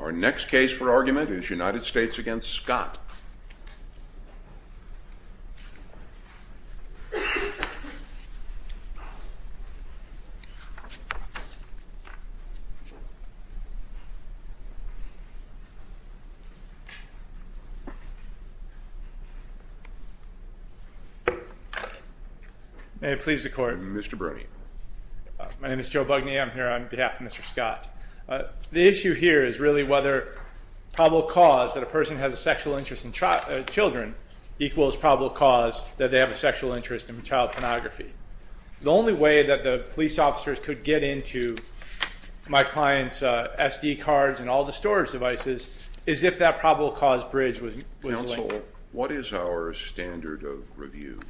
Our next case for argument is United States v. Scott. May it please the Court. Mr. Bruni. My name is Joe Bugney. I'm here on behalf of Mr. Scott. The issue here is really whether probable cause that a person has a sexual interest in children equals probable cause that they have a sexual interest in child pornography. The only way that the police officers could get into my client's SD cards and all the storage devices is if that probable cause bridge was linked. First of all, what is our standard of review?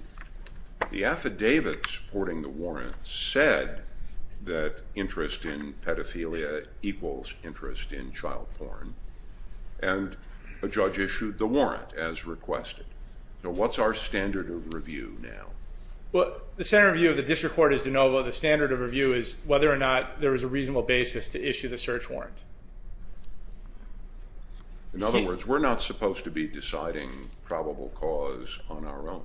The affidavit supporting the warrant said that interest in pedophilia equals interest in child porn, and a judge issued the warrant as requested. So what's our standard of review now? The standard of review of the district court is de novo. The standard of review is whether or not there is a reasonable basis to issue the search warrant. In other words, we're not supposed to be deciding probable cause on our own.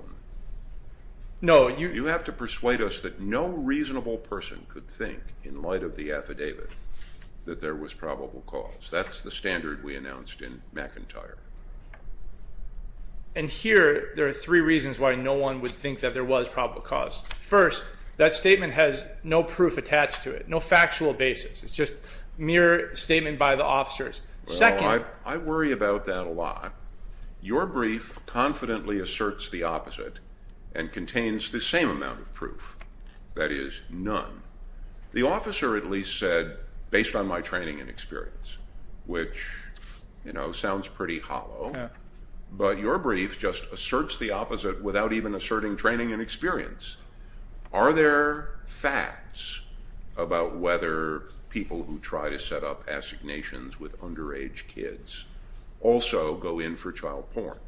You have to persuade us that no reasonable person could think, in light of the affidavit, that there was probable cause. That's the standard we announced in McIntyre. And here, there are three reasons why no one would think that there was probable cause. First, that statement has no proof attached to it, no factual basis. It's just mere statement by the officers. Well, I worry about that a lot. Your brief confidently asserts the opposite and contains the same amount of proof, that is, none. The officer at least said, based on my training and experience, which sounds pretty hollow, but your brief just asserts the opposite without even asserting training and experience. Are there facts about whether people who try to set up assignations with underage kids also go in for child porn?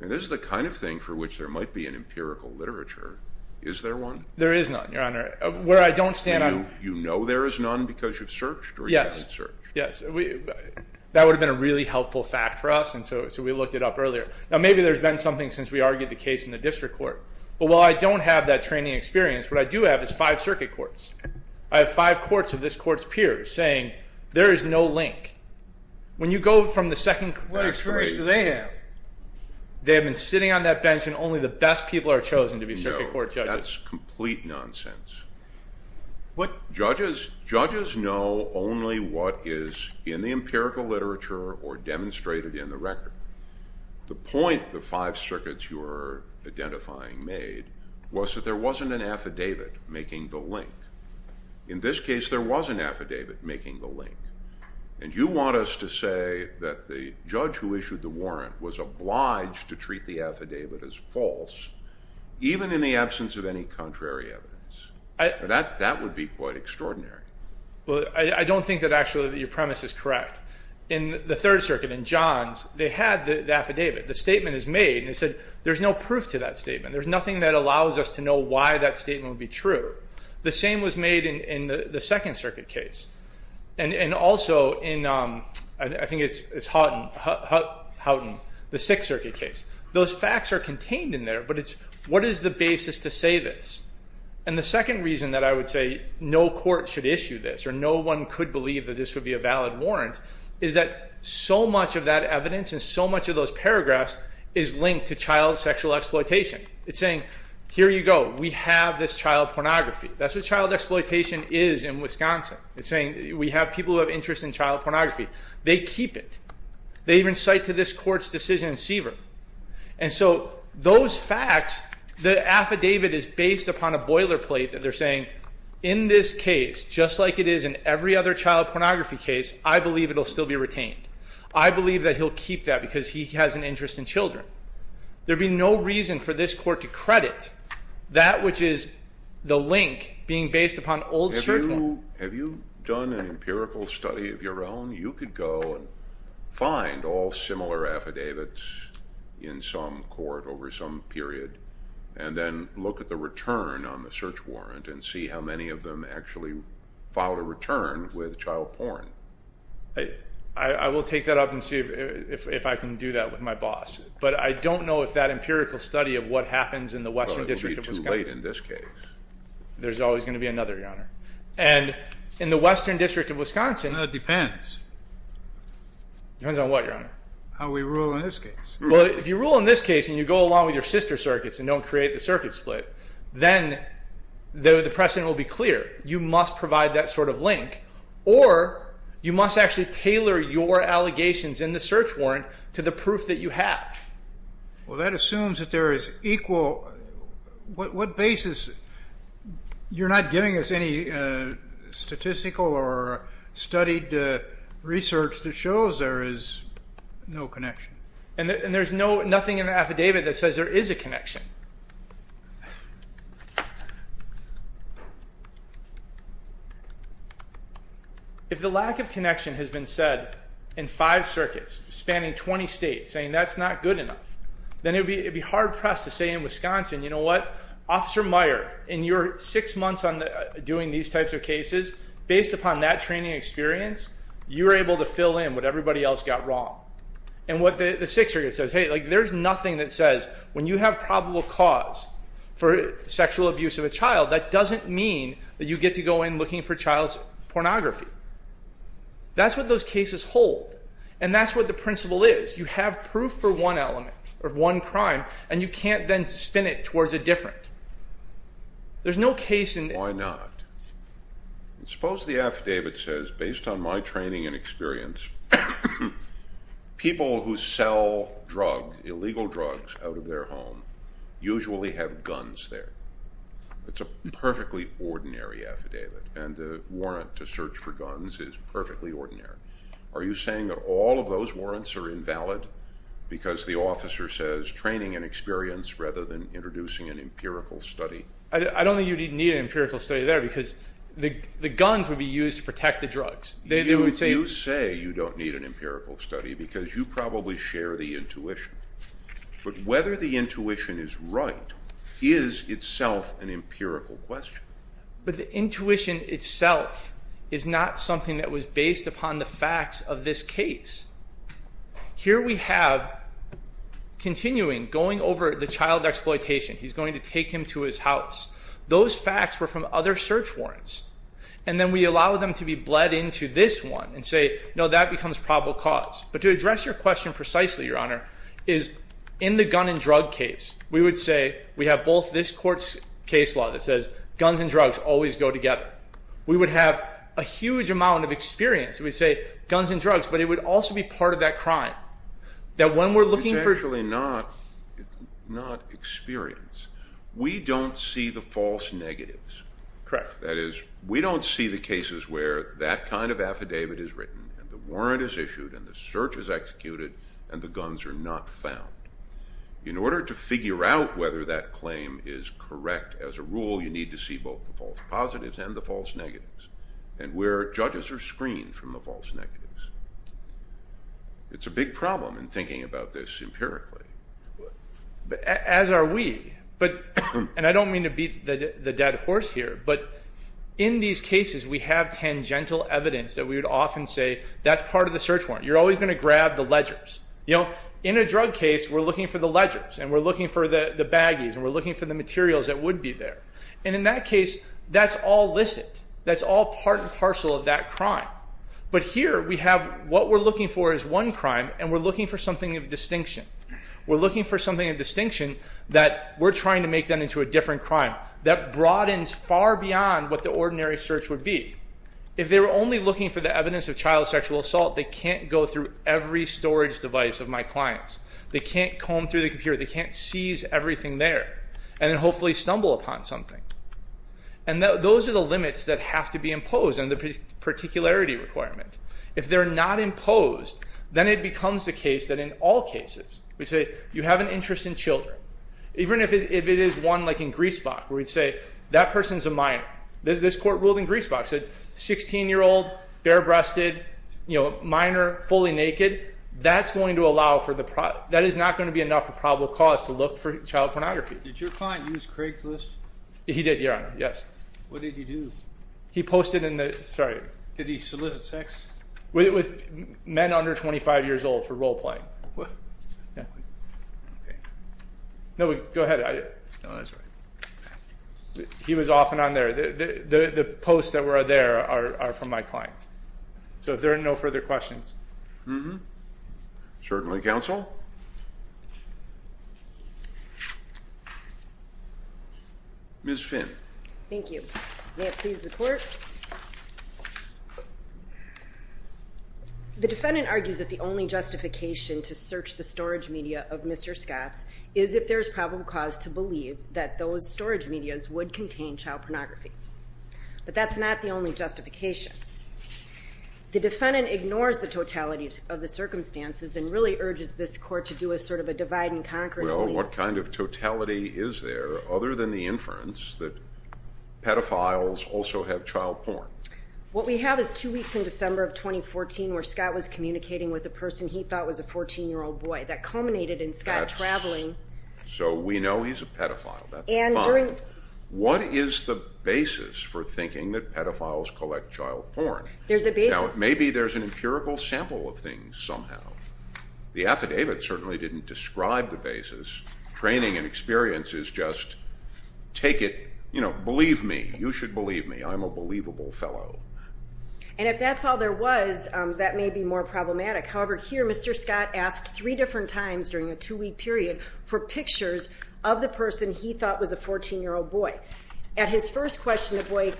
And this is the kind of thing for which there might be an empirical literature. Is there one? There is none, Your Honor. Where I don't stand on... And you know there is none because you've searched or you haven't searched? Yes. That would have been a really helpful fact for us, and so we looked it up earlier. Now, maybe there's been something since we argued the case in the district court. But while I don't have that training experience, what I do have is five circuit courts. I have five courts of this court's peers saying there is no link. When you go from the second... That's crazy. What experience do they have? They have been sitting on that bench and only the best people are chosen to be circuit court judges. No, that's complete nonsense. Judges know only what is in the empirical literature or demonstrated in the record. The point of the five circuits you were identifying made was that there wasn't an affidavit making the link. In this case, there was an affidavit making the link. And you want us to say that the judge who issued the warrant was obliged to treat the affidavit as false, even in the absence of any contrary evidence. That would be quite extraordinary. I don't think that actually your premise is correct. In the Third Circuit, in Johns, they had the affidavit. The statement is made, and they said there's no proof to that statement. There's nothing that allows us to know why that statement would be true. The same was made in the Second Circuit case. And also in, I think it's Houghton, the Sixth Circuit case. Those facts are contained in there, but what is the basis to say this? And the second reason that I would say no court should issue this or no one could believe that this would be a valid warrant is that so much of that evidence and so much of those paragraphs is linked to child sexual exploitation. It's saying, here you go, we have this child pornography. That's what child exploitation is in Wisconsin. It's saying we have people who have interest in child pornography. They keep it. They even cite to this court's decision in Seaver. And so those facts, the affidavit is based upon a boilerplate that they're saying, in this case, just like it is in every other child pornography case, I believe it will still be retained. I believe that he'll keep that because he has an interest in children. There would be no reason for this court to credit that which is the link being based upon old search warrants. Have you done an empirical study of your own? You could go and find all similar affidavits in some court over some period and then look at the return on the search warrant and see how many of them actually filed a return with child porn. I will take that up and see if I can do that with my boss. But I don't know if that empirical study of what happens in the Western District of Wisconsin. It would be too late in this case. There's always going to be another, Your Honor. And in the Western District of Wisconsin. It depends. Depends on what, Your Honor? How we rule in this case. If you rule in this case and you go along with your sister circuits and don't create the circuit split, then the precedent will be clear. You must provide that sort of link or you must actually tailor your allegations in the search warrant to the proof that you have. Well, that assumes that there is equal. What basis? You're not giving us any statistical or studied research that shows there is no connection. And there's nothing in the affidavit that says there is a connection. If the lack of connection has been said in five circuits spanning 20 states, saying that's not good enough, then it would be hard-pressed to say in Wisconsin, you know what, Officer Meyer, in your six months doing these types of cases, based upon that training experience, you were able to fill in what everybody else got wrong. And what the sixth circuit says, hey, there's nothing that says when you have probable cause for sexual abuse of a child, that doesn't mean that you get to go in looking for child's pornography. That's what those cases hold. And that's what the principle is. You have proof for one element or one crime, and you can't then spin it towards a different. There's no case in... Why not? Suppose the affidavit says, based on my training and experience, people who sell illegal drugs out of their home usually have guns there. It's a perfectly ordinary affidavit, and the warrant to search for guns is perfectly ordinary. Are you saying that all of those warrants are invalid because the officer says training and experience rather than introducing an empirical study? I don't think you'd need an empirical study there because the guns would be used to protect the drugs. You say you don't need an empirical study because you probably share the intuition. But whether the intuition is right is itself an empirical question. But the intuition itself is not something that was based upon the facts of this case. Here we have continuing, going over the child exploitation. He's going to take him to his house. Those facts were from other search warrants. And then we allow them to be bled into this one and say, no, that becomes probable cause. But to address your question precisely, Your Honor, is in the gun and drug case we would say we have both this court's case law that says guns and drugs always go together. We would have a huge amount of experience. We'd say guns and drugs, but it would also be part of that crime. That when we're looking for... It's actually not experience. We don't see the false negatives. Correct. That is, we don't see the cases where that kind of affidavit is written and the warrant is issued and the search is executed and the guns are not found. In order to figure out whether that claim is correct as a rule, you need to see both the false positives and the false negatives and where judges are screened from the false negatives. It's a big problem in thinking about this empirically. As are we. I don't mean to beat the dead horse here, but in these cases we have tangential evidence that we would often say that's part of the search warrant. You're always going to grab the ledgers. In a drug case, we're looking for the ledgers and we're looking for the baggies and we're looking for the materials that would be there. In that case, that's all licit. That's all part and parcel of that crime. But here we have what we're looking for is one crime and we're looking for something of distinction. We're looking for something of distinction that we're trying to make them into a different crime that broadens far beyond what the ordinary search would be. If they were only looking for the evidence of child sexual assault, they can't go through every storage device of my clients. They can't comb through the computer. They can't seize everything there and then hopefully stumble upon something. And those are the limits that have to be imposed and the particularity requirement. If they're not imposed, then it becomes the case that in all cases, we say you have an interest in children. Even if it is one like in Griesbach where we'd say that person's a minor. This court ruled in Griesbach, said 16-year-old, bare-breasted, minor, fully naked, that is not going to be enough of a probable cause to look for child pornography. Did your client use Craigslist? He did, Your Honor, yes. What did he do? He posted in the, sorry. Did he solicit sex? With men under 25 years old for role playing. What? Yeah. Okay. No, go ahead. No, that's right. He was often on there. The posts that were there are from my client. So if there are no further questions. Mm-hmm. Certainly, counsel. Ms. Finn. Thank you. May it please the court. The defendant argues that the only justification to search the storage media of Mr. Scott's is if there's probable cause to believe that those storage medias would contain child pornography. But that's not the only justification. The defendant ignores the totality of the circumstances and really urges this court to do a sort of divide and conquer. Well, what kind of totality is there other than the inference that pedophiles also have child porn? What we have is two weeks in December of 2014 where Scott was communicating with a person he thought was a 14-year-old boy. That culminated in Scott traveling. So we know he's a pedophile. That's fine. And during. What is the basis for thinking that pedophiles collect child porn? There's a basis. Now, maybe there's an empirical sample of things somehow. The affidavit certainly didn't describe the basis. Training and experience is just take it. Believe me. You should believe me. I'm a believable fellow. And if that's all there was, that may be more problematic. However, here Mr. Scott asked three different times during a two-week period for pictures of the person he thought was a 14-year-old boy. At his first question, the boy,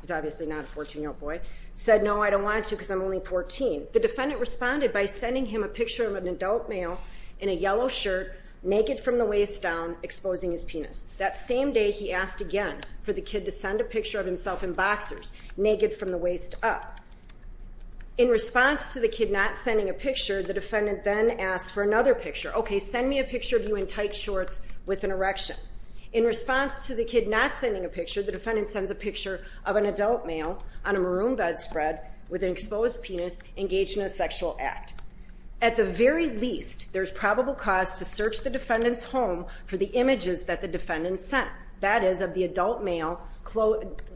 who's obviously not a 14-year-old boy, said, No, I don't want to because I'm only 14. The defendant responded by sending him a picture of an adult male in a yellow shirt, naked from the waist down, exposing his penis. That same day he asked again for the kid to send a picture of himself in boxers, naked from the waist up. In response to the kid not sending a picture, the defendant then asked for another picture. Okay, send me a picture of you in tight shorts with an erection. In response to the kid not sending a picture, the defendant sends a picture of an adult male on a maroon bedspread with an exposed penis engaged in a sexual act. At the very least, there's probable cause to search the defendant's home for the images that the defendant sent. That is, of the adult male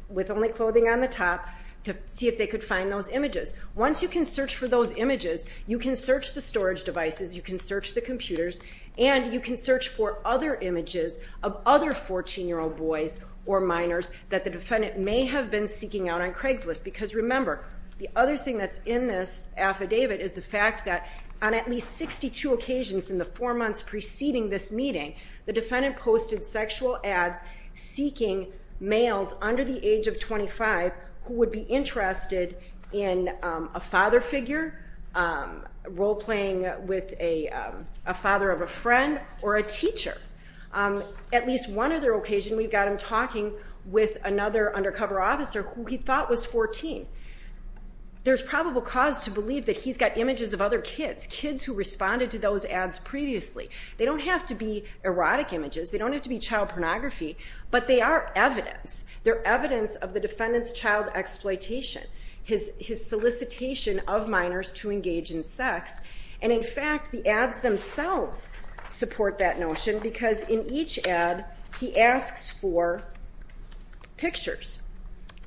with only clothing on the top to see if they could find those images. Once you can search for those images, you can search the storage devices, you can search the computers, and you can search for other images of other 14-year-old boys or minors that the defendant may have been seeking out on Craigslist. Because remember, the other thing that's in this affidavit is the fact that on at least 62 occasions in the four months preceding this meeting, the defendant posted sexual ads seeking males under the age of 25 who would be interested in a father figure, role playing with a father of a friend, or a teacher. At least one other occasion we've got him talking with another undercover officer who he thought was 14. There's probable cause to believe that he's got images of other kids, kids who responded to those ads previously. They don't have to be erotic images, they don't have to be child pornography, but they are evidence. They're evidence of the defendant's child exploitation, his solicitation of minors to engage in sex. And in fact, the ads themselves support that notion because in each ad, he asks for pictures.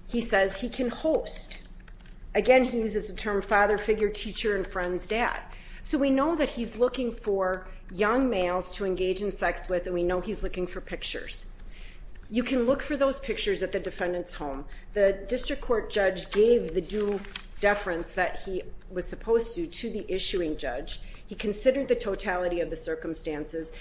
He says he can host. Again, he uses the term father figure, teacher and friend's dad. So we know that he's looking for young males to engage in sex with, and we know he's looking for pictures. You can look for those pictures at the defendant's home. The district court judge gave the due deference that he was supposed to to the issuing judge. He considered the totality of the circumstances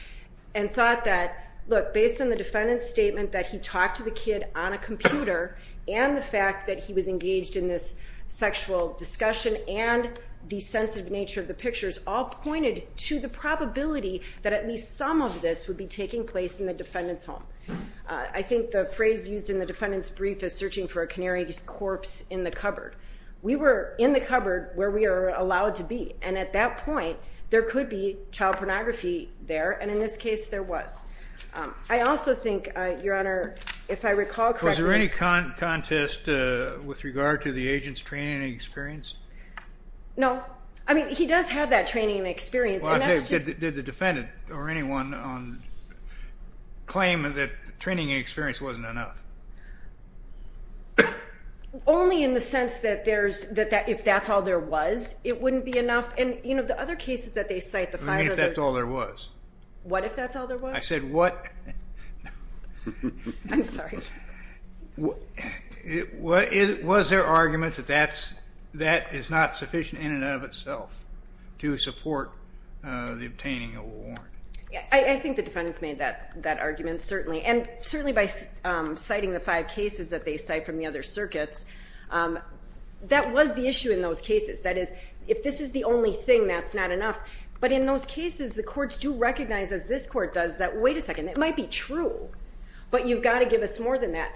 and thought that, look, based on the defendant's statement, that he talked to the kid on a computer and the fact that he was engaged in this sexual discussion and the sensitive nature of the pictures all pointed to the probability that at least some of this would be taking place in the defendant's home. I think the phrase used in the defendant's brief is searching for a canary's corpse in the cupboard. We were in the cupboard where we are allowed to be, and at that point there could be child pornography there, and in this case there was. I also think, Your Honor, if I recall correctly. Was there any contest with regard to the agent's training and experience? No. I mean, he does have that training and experience. Did the defendant or anyone claim that training and experience wasn't enough? Only in the sense that if that's all there was, it wouldn't be enough. And, you know, the other cases that they cite, the five others. What if that's all there was? I said what? I'm sorry. Was there argument that that is not sufficient in and of itself to support the obtaining of a warrant? I think the defendants made that argument, certainly. And certainly by citing the five cases that they cite from the other circuits, that was the issue in those cases. That is, if this is the only thing, that's not enough. But in those cases, the courts do recognize, as this court does, that, wait a second, it might be true, but you've got to give us more than that.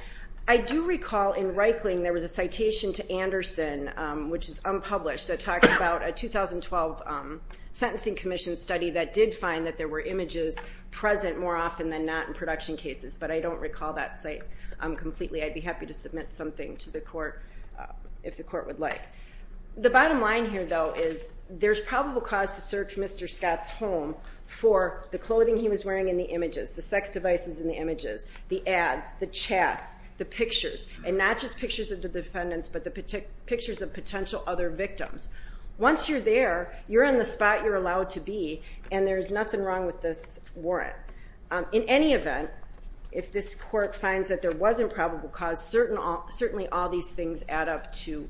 I do recall in Reikling there was a citation to Anderson, which is unpublished, that talks about a 2012 sentencing commission study that did find that there were images present more often than not in production cases, but I don't recall that site completely. I'd be happy to submit something to the court if the court would like. The bottom line here, though, is there's probable cause to search Mr. Scott's home for the clothing he was wearing in the images, the sex devices in the images, the ads, the chats, the pictures, and not just pictures of the defendants, but the pictures of potential other victims. Once you're there, you're in the spot you're allowed to be, and there's nothing wrong with this warrant. In any event, if this court finds that there was improbable cause, certainly all these things add up to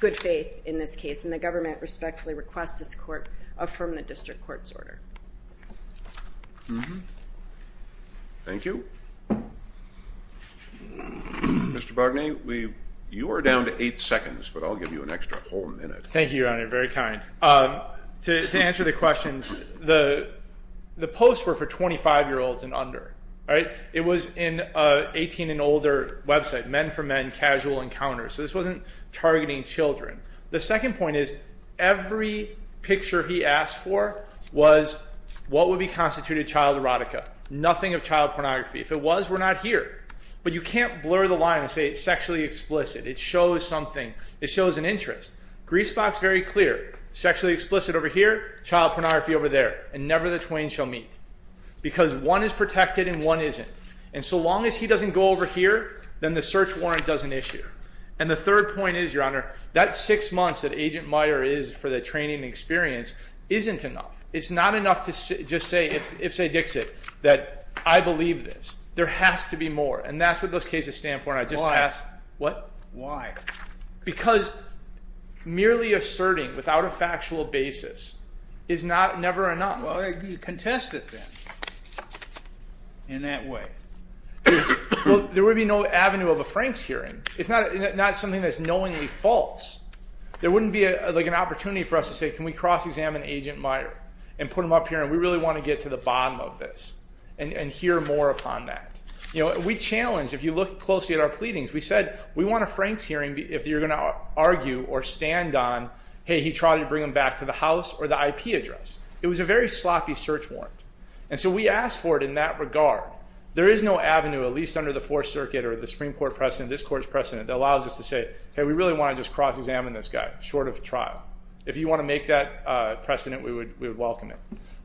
good faith in this case, and the government respectfully requests this court affirm the district court's order. Thank you. Mr. Bargnay, you are down to eight seconds, but I'll give you an extra whole minute. Thank you, Your Honor. Very kind. To answer the questions, the posts were for 25-year-olds and under. It was in an 18-and-older website, Men for Men Casual Encounters. So this wasn't targeting children. The second point is every picture he asked for was what would be constituted child erotica, nothing of child pornography. If it was, we're not here. But you can't blur the line and say it's sexually explicit. It shows something. It shows an interest. Greasebox, very clear. Sexually explicit over here, child pornography over there, and never the twain shall meet. Because one is protected and one isn't. And so long as he doesn't go over here, then the search warrant doesn't issue. And the third point is, Your Honor, that six months that Agent Meyer is for the training and experience isn't enough. It's not enough to just say, if, say, Dixit, that I believe this. There has to be more. And that's what those cases stand for. And I just ask. Why? What? Why? Because merely asserting without a factual basis is never enough. Well, contest it then in that way. Well, there would be no avenue of a Franks hearing. It's not something that's knowingly false. There wouldn't be, like, an opportunity for us to say, can we cross-examine Agent Meyer and put him up here? And we really want to get to the bottom of this and hear more upon that. You know, we challenge, if you look closely at our pleadings, we said we want a Franks hearing if you're going to argue or stand on, hey, he tried to bring him back to the house or the IP address. It was a very sloppy search warrant. And so we asked for it in that regard. There is no avenue, at least under the Fourth Circuit or the Supreme Court precedent, this Court's precedent, that allows us to say, hey, we really want to just cross-examine this guy, short of trial. If you want to make that precedent, we would welcome it.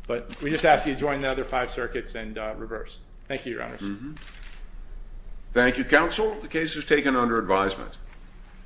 But we just ask that you join the other five circuits and reverse. Thank you, Your Honor. Thank you, counsel. The case is taken under advisement.